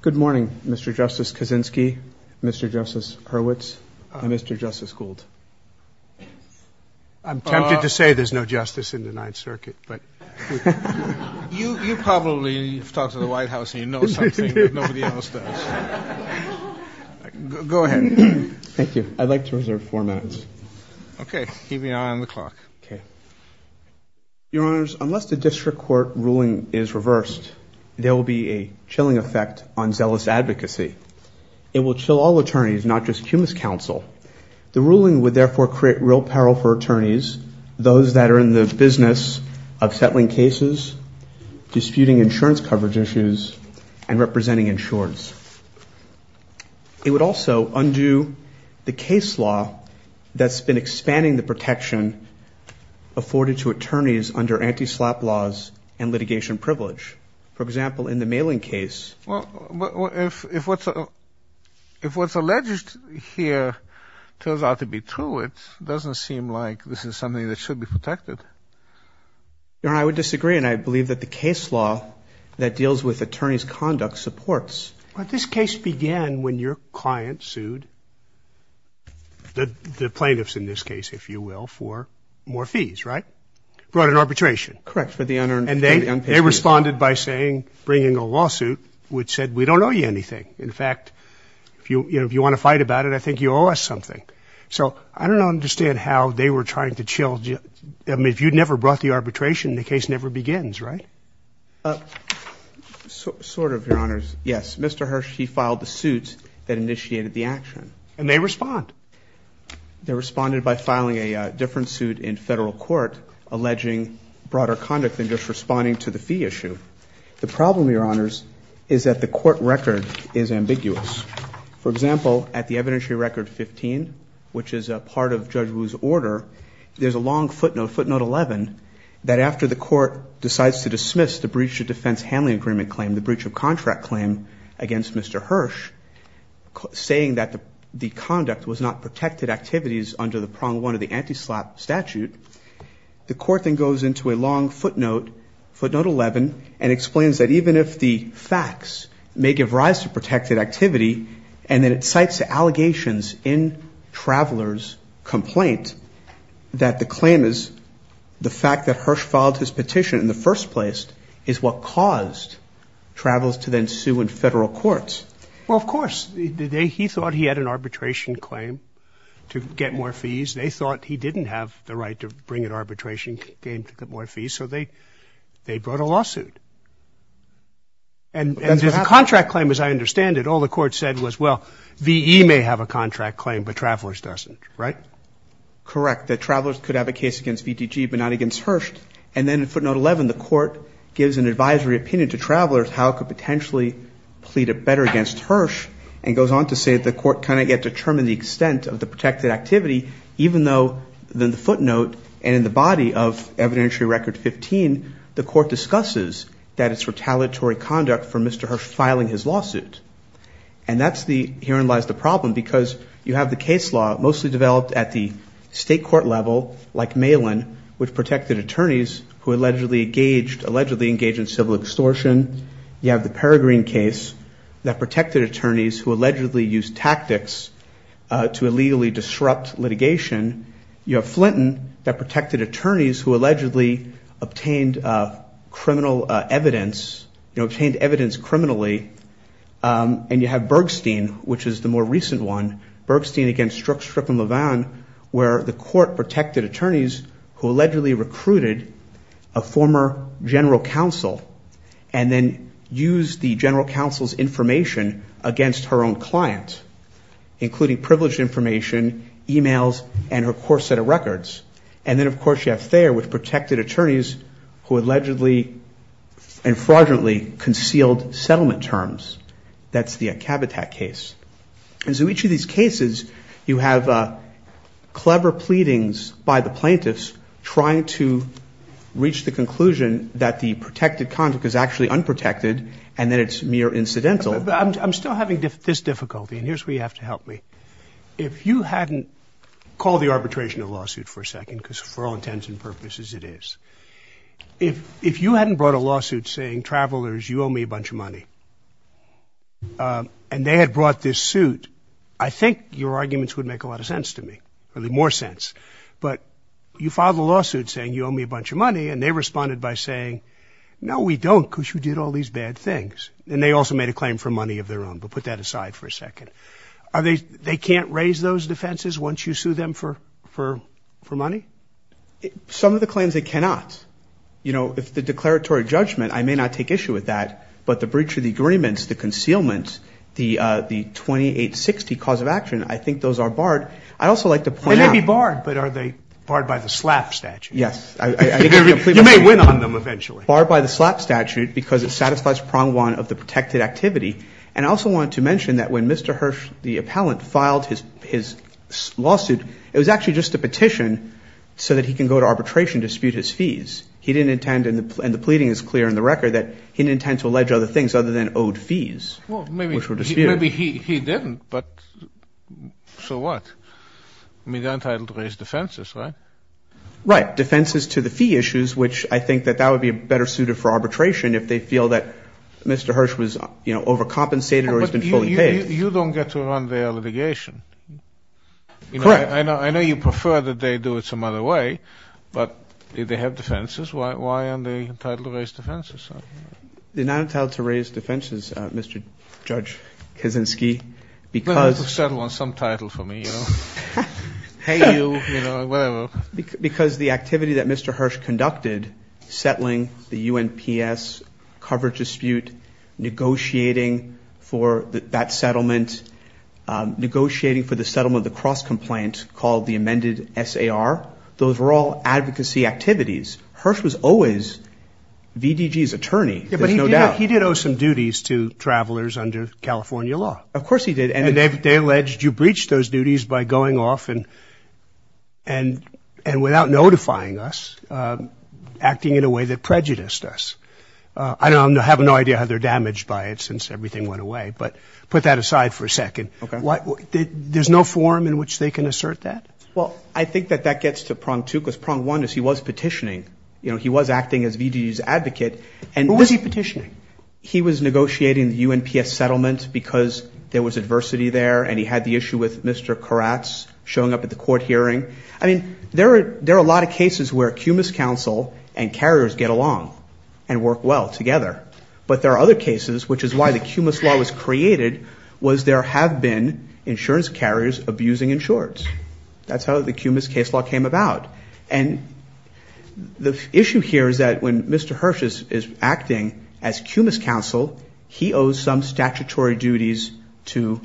Good morning, Mr. Justice Kaczynski, Mr. Justice Hurwitz, and Mr. Justice Gould. I'm tempted to say there's no justice in the Ninth Circuit, but... You probably have talked to the White House and you know something that nobody else does. Go ahead. Thank you. I'd like to reserve four minutes. Okay. Keep an eye on the clock. Okay. Your Honors, unless the district court ruling is reversed, there will be a chilling effect on zealous advocacy. It will chill all attorneys, not just Cumas counsel. The ruling would therefore create real peril for attorneys, those that are in the business of settling cases, disputing insurance coverage issues, and representing insurers. It would also undo the case law that's been expanding the protection afforded to attorneys under anti-SLAP laws and litigation privilege. For example, in the mailing case... Well, if what's alleged here turns out to be true, it doesn't seem like this is something that should be protected. Your Honor, I would disagree, and I believe that the case law that deals with attorney's conduct supports... But this case began when your client sued the plaintiffs in this case, if you will, for more fees, right? Brought an arbitration. Correct, for the unpaid fees. And they responded by saying, bringing a lawsuit, which said, we don't owe you anything. In fact, if you want to fight about it, I think you owe us something. So I don't understand how they were trying to chill. I mean, if you'd never brought the arbitration, the case never begins, right? Sort of, Your Honors. Yes, Mr. Hersh, he filed the suit that initiated the action. And they respond? They responded by filing a different suit in federal court alleging broader conduct than just responding to the fee issue. The problem, Your Honors, is that the court record is ambiguous. For example, at the evidentiary record 15, which is a part of Judge Wu's order, there's a long footnote, footnote 11, that after the court decides to dismiss the breach of defense handling agreement claim, the breach of contract claim, against Mr. Hersh, saying that the conduct was not protected activities under the prong one of the anti-SLAPP statute, the court then goes into a long footnote, footnote 11, and explains that even if the facts may give rise to protected activity, and then it cites allegations in Traveler's complaint, that the claim is the fact that Hersh filed his petition in the first place is what caused Traveler to then sue in federal court. Well, of course. He thought he had an arbitration claim to get more fees. They thought he didn't have the right to bring an arbitration claim to get more fees. So they brought a lawsuit. And there's a contract claim, as I understand it. All the court said was, well, V.E. may have a contract claim, but Traveler's doesn't, right? Correct, that Traveler's could have a case against VTG but not against Hersh. And then in footnote 11, the court gives an advisory opinion to Traveler's how it could potentially plead it better against Hersh and goes on to say the court cannot yet determine the extent of the protected activity, even though in the footnote and in the body of evidentiary record 15, the court discusses that it's retaliatory conduct for Mr. Hersh filing his lawsuit. And that's the, herein lies the problem, because you have the case law mostly developed at the state court level, like Malin, which protected attorneys who allegedly engaged in civil extortion. You have the Peregrine case that protected attorneys who allegedly used tactics to illegally disrupt litigation. You have Flinton that protected attorneys who allegedly obtained criminal evidence, obtained evidence criminally. And you have Bergstein, which is the more recent one, Bergstein against Strzok and Levin, where the court protected attorneys who allegedly recruited a former general counsel and then used the general counsel's information against her own client, including privileged information, e-mails, and her court set of records. And then, of course, you have Thayer with protected attorneys who allegedly and fraudulently concealed settlement terms. That's the Kabatack case. And so each of these cases, you have clever pleadings by the plaintiffs trying to reach the conclusion that the protected conflict is actually unprotected and that it's mere incidental. I'm still having this difficulty, and here's where you have to help me. If you hadn't called the arbitration a lawsuit for a second, because for all intents and purposes it is, if you hadn't brought a lawsuit saying, travelers, you owe me a bunch of money, and they had brought this suit, I think your arguments would make a lot of sense to me, really more sense, but you filed a lawsuit saying you owe me a bunch of money, and they responded by saying, no, we don't, because you did all these bad things. And they also made a claim for money of their own, but put that aside for a second. They can't raise those defenses once you sue them for money? Some of the claims they cannot. You know, if the declaratory judgment, I may not take issue with that, but the breach of the agreements, the concealment, the 2860 cause of action, I think those are barred. I'd also like to point out. They may be barred, but are they barred by the SLAP statute? Yes. You may win on them eventually. And I also want to mention that when Mr. Hirsch, the appellant, filed his lawsuit, it was actually just a petition so that he can go to arbitration to dispute his fees. He didn't intend, and the pleading is clear in the record, that he didn't intend to allege other things other than owed fees, which were disputed. Maybe he didn't, but so what? I mean, they're entitled to raise defenses, right? Right. Defenses to the fee issues, which I think that that would be better suited for arbitration if they feel that Mr. Hirsch was, you know, overcompensated or he's been fully paid. You don't get to run their litigation. Correct. I know you prefer that they do it some other way, but they have defenses. Why aren't they entitled to raise defenses? They're not entitled to raise defenses, Mr. Judge Kaczynski, because the activity that Mr. Hirsch conducted, settling the U.N.P.S. coverage dispute, negotiating for that settlement, negotiating for the settlement of the cross-complaint called the amended SAR, those were all advocacy activities. Hirsch was always VDG's attorney, there's no doubt. Yeah, but he did owe some duties to travelers under California law. Of course he did. And they alleged you breached those duties by going off and without notifying us, acting in a way that prejudiced us. I have no idea how they're damaged by it since everything went away, but put that aside for a second. There's no form in which they can assert that? Well, I think that that gets to prong two, because prong one is he was petitioning. You know, he was acting as VDG's advocate. Who was he petitioning? He was negotiating the U.N.P.S. settlement because there was adversity there, and he had the issue with Mr. Koratz showing up at the court hearing. I mean, there are a lot of cases where CUMIS counsel and carriers get along and work well together. But there are other cases, which is why the CUMIS law was created, was there have been insurance carriers abusing insureds. That's how the CUMIS case law came about. And the issue here is that when Mr. Hirsch is acting as CUMIS counsel, he owes some statutory duties to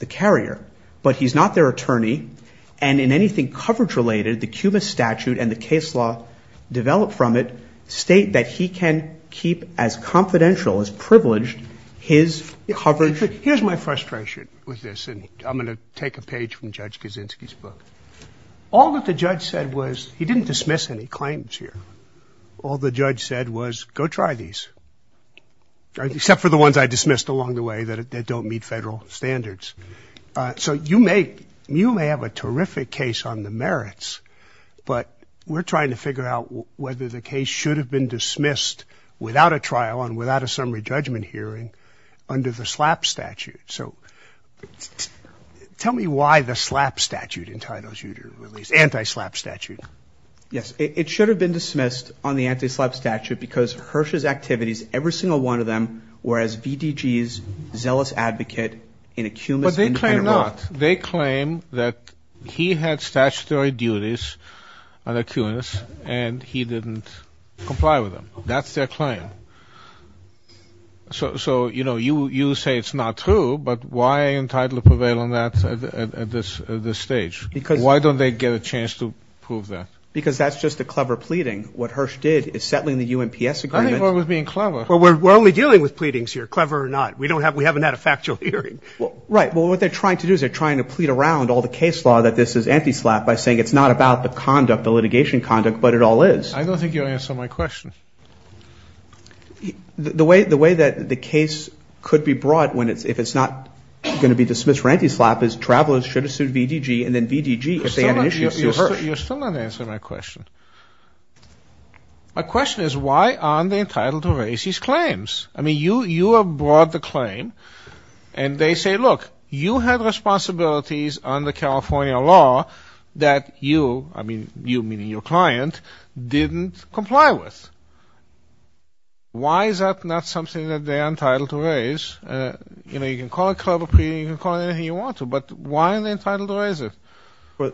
the carrier. But he's not their attorney, and in anything coverage-related, the CUMIS statute and the case law developed from it state that he can keep as confidential, as privileged, his coverage. Here's my frustration with this, and I'm going to take a page from Judge Kaczynski's book. All that the judge said was, he didn't dismiss any claims here. All the judge said was, go try these, except for the ones I dismissed along the way that don't meet federal standards. So you may have a terrific case on the merits, but we're trying to figure out whether the case should have been dismissed without a trial and without a summary judgment hearing under the SLAP statute. So tell me why the SLAP statute entitles you to release, anti-SLAP statute. Yes, it should have been dismissed on the anti-SLAP statute because Hirsch's activities, every single one of them, were as VDG's zealous advocate in a CUMIS independent role. But they claim not. They claim that he had statutory duties under CUMIS, and he didn't comply with them. That's their claim. So, you know, you say it's not true, but why are you entitled to prevail on that at this stage? Why don't they get a chance to prove that? Because that's just a clever pleading. What Hirsch did is settling the U.N.P.S. agreement. I didn't go with being clever. Well, we're only dealing with pleadings here, clever or not. We haven't had a factual hearing. Right. Well, what they're trying to do is they're trying to plead around all the case law that this is anti-SLAP by saying it's not about the conduct, the litigation conduct, but it all is. I don't think you answered my question. The way that the case could be brought, if it's not going to be dismissed for anti-SLAP, is travelers should have sued VDG, and then VDG, if they had an issue, sued Hirsch. You're still not answering my question. My question is why aren't they entitled to raise these claims? I mean, you have brought the claim, and they say, look, you had responsibilities under California law that you, I mean, you meaning your client, didn't comply with. Why is that not something that they're entitled to raise? You know, you can call it clever pleading, you can call it anything you want to, but why aren't they entitled to raise it?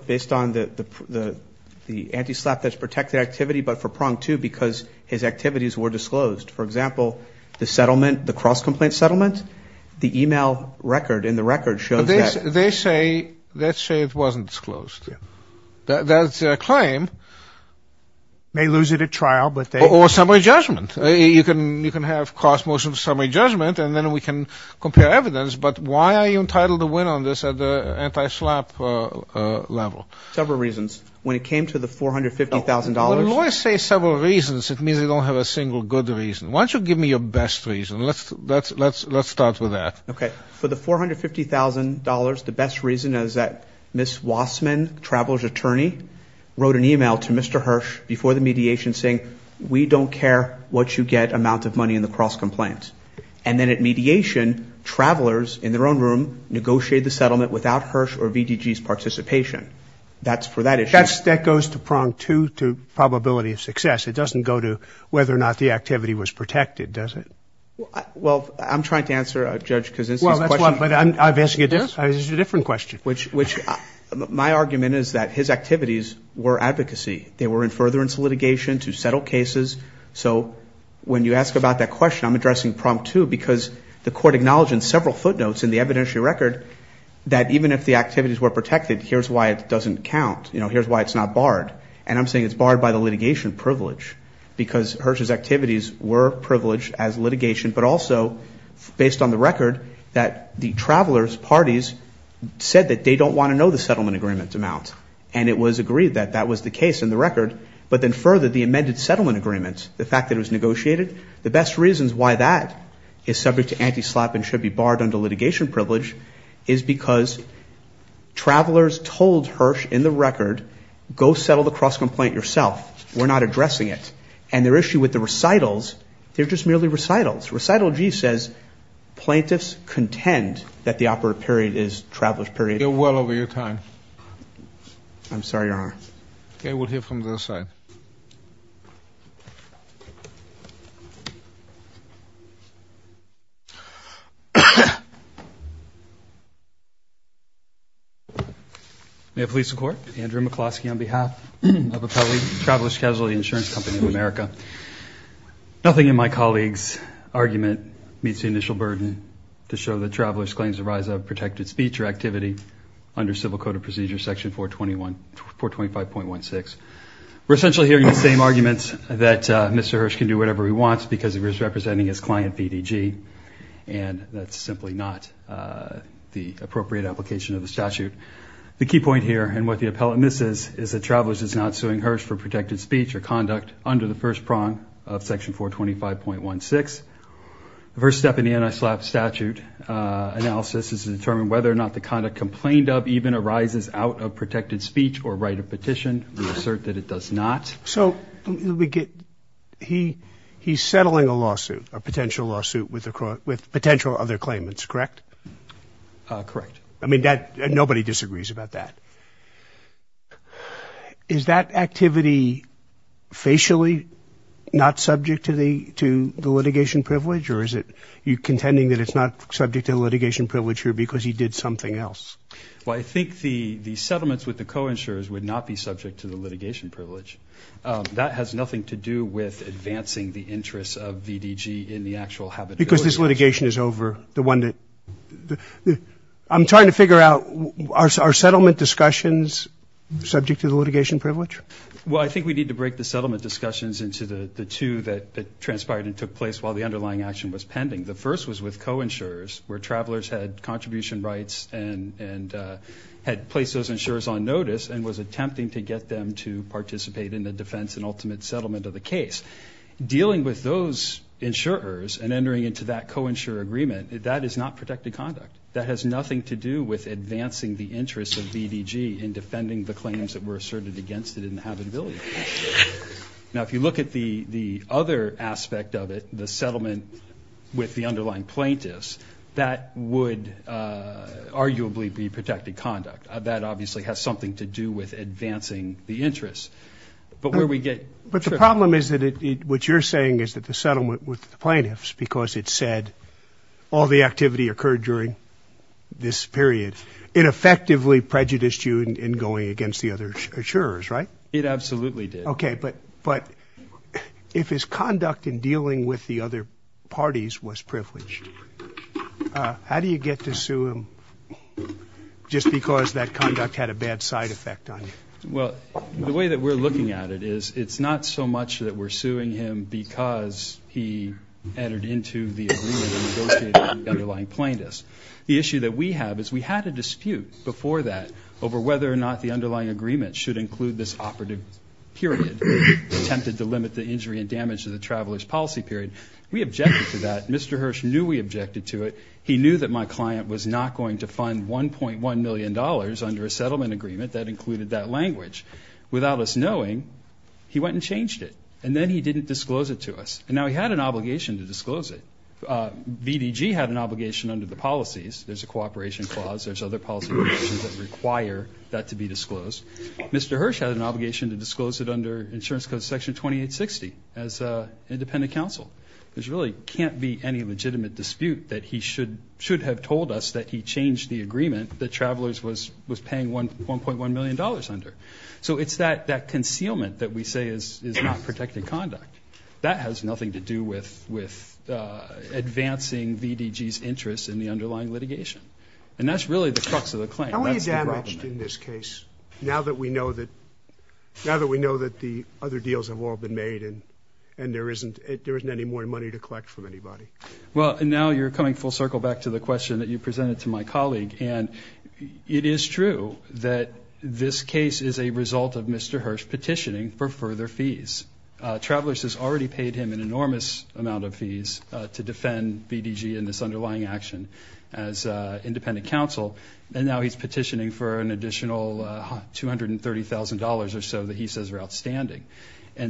Based on the anti-SLAP that's protected activity, but for pronged, too, because his activities were disclosed. For example, the settlement, the cross-complaint settlement, the e-mail record in the record shows that. They say, let's say it wasn't disclosed. That's a claim. May lose it at trial, but they... Or summary judgment. You can have cross-motion summary judgment, and then we can compare evidence. But why are you entitled to win on this at the anti-SLAP level? Several reasons. When it came to the $450,000... When lawyers say several reasons, it means they don't have a single good reason. Why don't you give me your best reason? Let's start with that. Okay. For the $450,000, the best reason is that Ms. Wassman, the traveler's attorney, wrote an e-mail to Mr. Hirsch before the mediation saying, we don't care what you get amount of money in the cross-complaint. And then at mediation, travelers in their own room negotiated the settlement without Hirsch or VDG's participation. That's for that issue. But that goes to prong two, to probability of success. It doesn't go to whether or not the activity was protected, does it? Well, I'm trying to answer Judge Kuczynski's question. There's a different question. My argument is that his activities were advocacy. They were in furtherance litigation to settle cases. So when you ask about that question, I'm addressing prong two, because the court acknowledged in several footnotes in the evidentiary record that even if the activities were protected, here's why it doesn't count. You know, here's why it's not barred. And I'm saying it's barred by the litigation privilege. Because Hirsch's activities were privileged as litigation, but also based on the record that the traveler's parties said that they don't want to know the settlement agreement amount. And it was agreed that that was the case in the record. But then further, the amended settlement agreement, the fact that it was negotiated, the best reasons why that is subject to anti-SLAPP and should be barred under litigation privilege is because travelers told Hirsch in the record, go settle the cross-complaint yourself. We're not addressing it. And their issue with the recitals, they're just merely recitals. Recital G says plaintiffs contend that the operative period is traveler's period. You're well over your time. I'm sorry, Your Honor. Okay. We'll hear from the other side. May it please the Court. Andrew McCloskey on behalf of Appelli Traveler's Casualty Insurance Company of America. Nothing in my colleague's argument meets the initial burden to show that travelers' claims arise out of protected speech or activity under Civil Code of Procedure section 425.16. We're essentially hearing the same arguments that Mr. Hirsch can do whatever he wants because he was representing his client, BDG. And that's simply not the appropriate application of the statute. The key point here and what the appellate misses is that travelers is not suing Hirsch for protected speech or conduct under the first prong of section 425.16. The first step in the anti-SLAPP statute analysis is to determine whether or not the conduct complained of even arises out of protected speech or right of petition. We assert that it does not. So he's settling a lawsuit, a potential lawsuit with potential other claimants, correct? Correct. I mean, nobody disagrees about that. Is that activity facially not subject to the litigation privilege or is it you're contending that it's not subject to the litigation privilege here because he did something else? Well, I think the settlements with the co-insurers would not be subject to the litigation privilege. That has nothing to do with advancing the interests of BDG in the actual habitability. Because this litigation is over. I'm trying to figure out, are settlement discussions subject to the litigation privilege? Well, I think we need to break the settlement discussions into the two that transpired and took place while the underlying action was pending. The first was with co-insurers where travelers had contribution rights and had placed those insurers on notice and was attempting to get them to participate in the defense and ultimate settlement of the case. Dealing with those insurers and entering into that co-insurer agreement, that is not protected conduct. That has nothing to do with advancing the interests of BDG in defending the claims that were asserted against it in the habitability case. Now, if you look at the other aspect of it, the settlement with the underlying plaintiffs, that would arguably be protected conduct. That obviously has something to do with advancing the interests. But the problem is that what you're saying is that the settlement with the plaintiffs because it said all the activity occurred during this period, it effectively prejudiced you in going against the other insurers, right? It absolutely did. Okay. But if his conduct in dealing with the other parties was privileged, how do you get to sue him just because that conduct had a bad side effect on you? Well, the way that we're looking at it is it's not so much that we're suing him because he entered into the agreement and negotiated with the underlying plaintiffs. The issue that we have is we had a dispute before that over whether or not the underlying agreement should include this operative period, attempted to limit the injury and damage to the traveler's policy period. We objected to that. Mr. Hirsch knew we objected to it. He knew that my client was not going to fund $1.1 million under a settlement agreement that included that language. Without us knowing, he went and changed it. And then he didn't disclose it to us. And now he had an obligation to disclose it. VDG had an obligation under the policies. There's a cooperation clause. There's other policy provisions that require that to be disclosed. Mr. Hirsch had an obligation to disclose it under Insurance Code Section 2860 as an independent counsel. There really can't be any legitimate dispute that he should have told us that he changed the agreement that Travelers was paying $1.1 million under. So it's that concealment that we say is not protected conduct. That has nothing to do with advancing VDG's interest in the underlying litigation. And that's really the crux of the claim. How are you damaged in this case now that we know that the other deals have all been made and there isn't any more money to collect from anybody? Well, now you're coming full circle back to the question that you presented to my colleague. And it is true that this case is a result of Mr. Hirsch petitioning for further fees. Travelers has already paid him an enormous amount of fees to defend VDG in this underlying action as independent counsel. And now he's petitioning for an additional $230,000 or so that he says are outstanding. I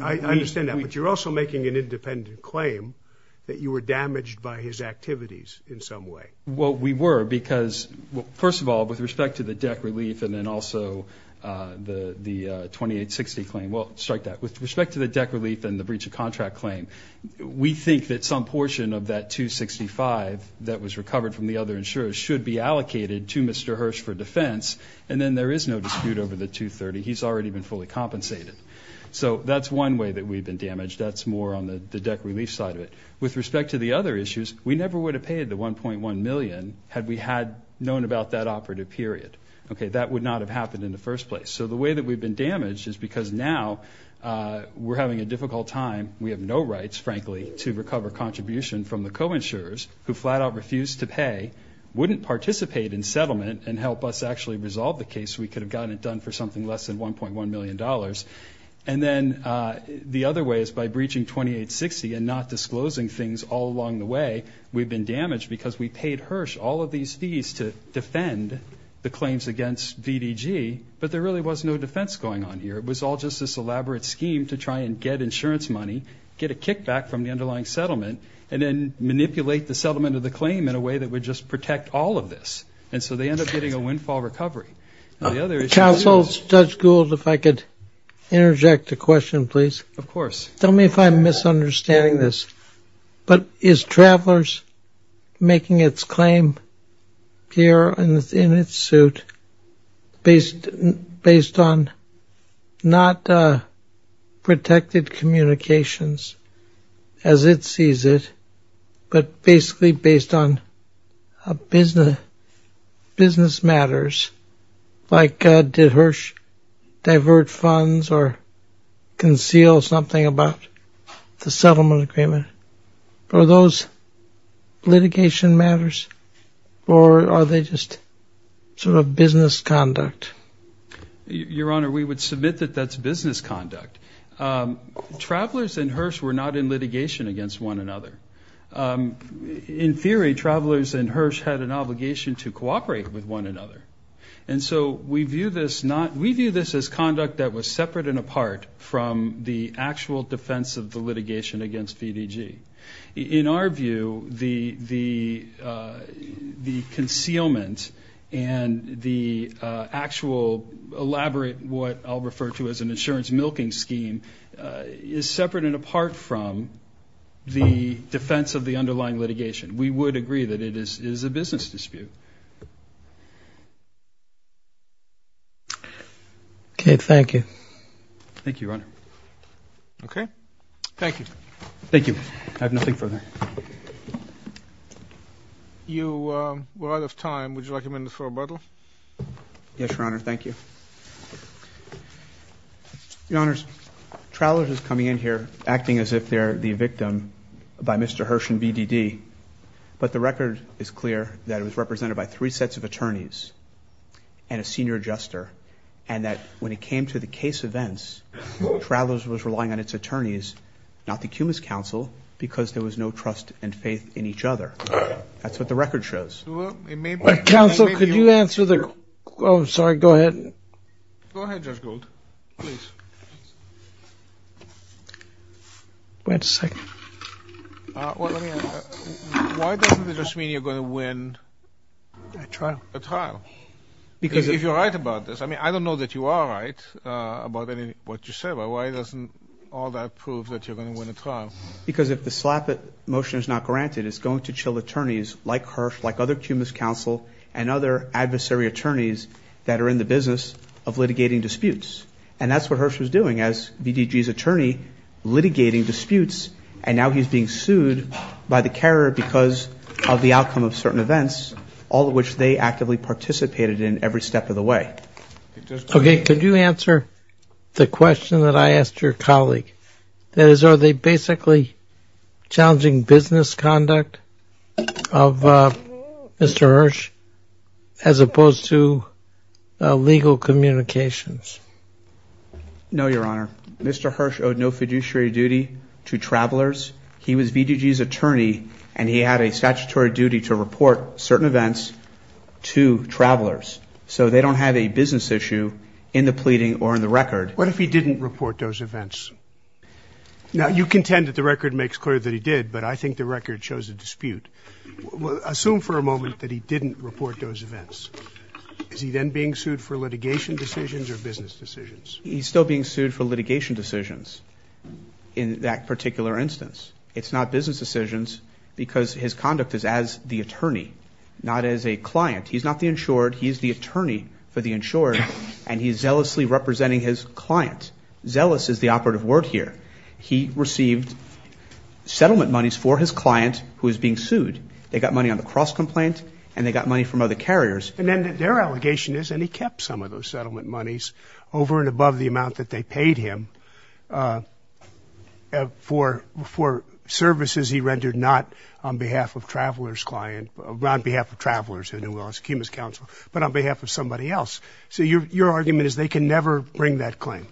understand that, but you're also making an independent claim that you were damaged by his activities in some way. Well, we were because, first of all, with respect to the deck relief and then also the 2860 claim, well, strike that. With respect to the deck relief and the breach of contract claim, we think that some portion of that $265,000 that was recovered from the other insurers should be allocated to Mr. Hirsch for defense, and then there is no dispute over the $230,000. He's already been fully compensated. So that's one way that we've been damaged. That's more on the deck relief side of it. With respect to the other issues, we never would have paid the $1.1 million had we known about that operative period. That would not have happened in the first place. So the way that we've been damaged is because now we're having a difficult time. We have no rights, frankly, to recover contribution from the co-insurers who flat out refused to pay, wouldn't participate in settlement, and help us actually resolve the case. We could have gotten it done for something less than $1.1 million. And then the other way is by breaching 2860 and not disclosing things all along the way, we've been damaged because we paid Hirsch all of these fees to defend the claims against VDG, but there really was no defense going on here. It was all just this elaborate scheme to try and get insurance money, get a kickback from the underlying settlement, and then manipulate the settlement of the claim in a way that would just protect all of this. And so they end up getting a windfall recovery. Counsel, Judge Gould, if I could interject a question, please. Of course. Tell me if I'm misunderstanding this, but is Travelers making its claim here in its suit based on not protected communications as it sees it, but basically based on business matters like did Hirsch divert funds or conceal something about the settlement agreement? Are those litigation matters or are they just sort of business conduct? Your Honor, we would submit that that's business conduct. Travelers and Hirsch were not in litigation against one another. In theory, Travelers and Hirsch had an obligation to cooperate with one another, and so we view this as conduct that was separate and apart from the actual defense of the litigation against VDG. In our view, the concealment and the actual elaborate what I'll refer to as an insurance milking scheme is separate and apart from the defense of the underlying litigation. We would agree that it is a business dispute. Okay. Thank you. Thank you, Your Honor. Okay. Thank you. Thank you. I have nothing further. You are out of time. Would you like a minute for rebuttal? Yes, Your Honor. Thank you. Your Honors, Travelers is coming in here acting as if they're the victim by Mr. Hirsch and VDD, but the record is clear that it was represented by three sets of attorneys and a senior adjuster, and that when it came to the case events, Travelers was relying on its attorneys, not the Cummins counsel, because there was no trust and faith in each other. That's what the record shows. Counsel, could you answer the question? I'm sorry. Go ahead. Go ahead, Judge Gould. Please. Wait a second. Why doesn't it just mean you're going to win a trial? If you're right about this. I mean, I don't know that you are right about what you said, but why doesn't all that prove that you're going to win a trial? Because if the slap-it motion is not granted, it's going to chill attorneys like Hirsch, like other Cummins counsel, and other adversary attorneys that are in the business of litigating disputes, and that's what Hirsch was doing as VDD's attorney, litigating disputes, and now he's being sued by the carrier because of the outcome of certain events, all of which they actively participated in every step of the way. Okay. Could you answer the question that I asked your colleague? That is, are they basically challenging business conduct of Mr. Hirsch, as opposed to legal communications? No, Your Honor. Mr. Hirsch owed no fiduciary duty to travelers. He was VDD's attorney, and he had a statutory duty to report certain events to travelers, so they don't have a business issue in the pleading or in the record. What if he didn't report those events? Now, you contend that the record makes clear that he did, but I think the record shows a dispute. Assume for a moment that he didn't report those events. Is he then being sued for litigation decisions or business decisions? He's still being sued for litigation decisions in that particular instance. It's not business decisions because his conduct is as the attorney, not as a client. He's not the insured. He's the attorney for the insured, and he's zealously representing his client. Zealous is the operative word here. He received settlement monies for his client who is being sued. They got money on the cross complaint, and they got money from other carriers. And then their allegation is, and he kept some of those settlement monies, over and above the amount that they paid him, for services he rendered not on behalf of travelers' client, not on behalf of travelers in the New Orleans Communist Council, but on behalf of somebody else. So your argument is they can never bring that claim.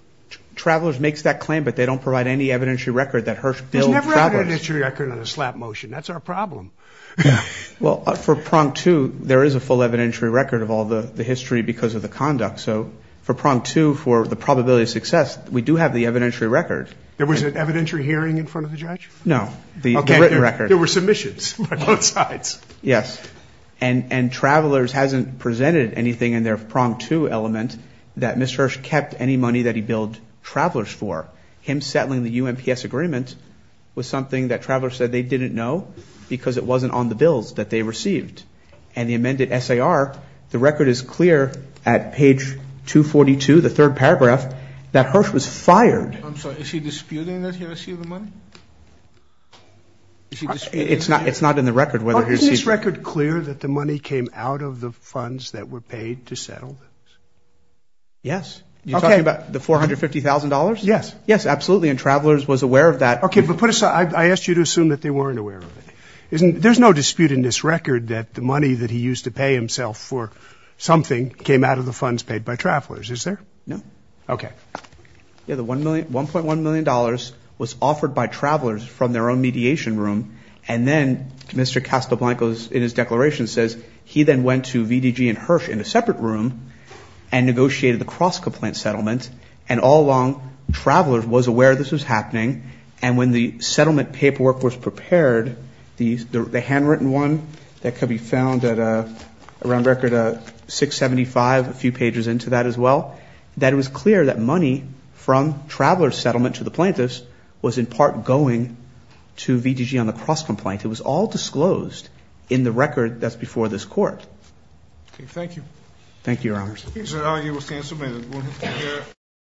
Travelers makes that claim, but they don't provide any evidentiary record that Hirsch billed travelers. There's never an evidentiary record on a slap motion. That's our problem. Well, for prong two, there is a full evidentiary record of all the history because of the conduct. So for prong two, for the probability of success, we do have the evidentiary record. There was an evidentiary hearing in front of the judge? No. There were submissions on both sides. Yes. And travelers hasn't presented anything in their prong two element that Mr. Hirsch kept any money that he billed travelers for. But him settling the UMPS agreement was something that travelers said they didn't know because it wasn't on the bills that they received. And the amended SAR, the record is clear at page 242, the third paragraph, that Hirsch was fired. I'm sorry. Is he disputing that he received the money? It's not in the record whether he received it. Is this record clear that the money came out of the funds that were paid to settle this? Yes. Okay. You're talking about the $450,000? Yes. Yes, absolutely. And travelers was aware of that. Okay. But put aside, I asked you to assume that they weren't aware of it. There's no dispute in this record that the money that he used to pay himself for something came out of the funds paid by travelers, is there? No. Okay. Yeah, the $1.1 million was offered by travelers from their own mediation room. And then Mr. Castelblanco in his declaration says, he then went to VDG and Hirsch in a separate room and negotiated the cross-complaint settlement. And all along, travelers was aware this was happening. And when the settlement paperwork was prepared, the handwritten one that could be found at around record 675, a few pages into that as well, that it was clear that money from travelers' settlement to the plaintiffs was in part going to VDG on the cross-complaint. It was all disclosed in the record that's before this court. Okay. Thank you. Thank you, Your Honors. Is that all you were saying to me?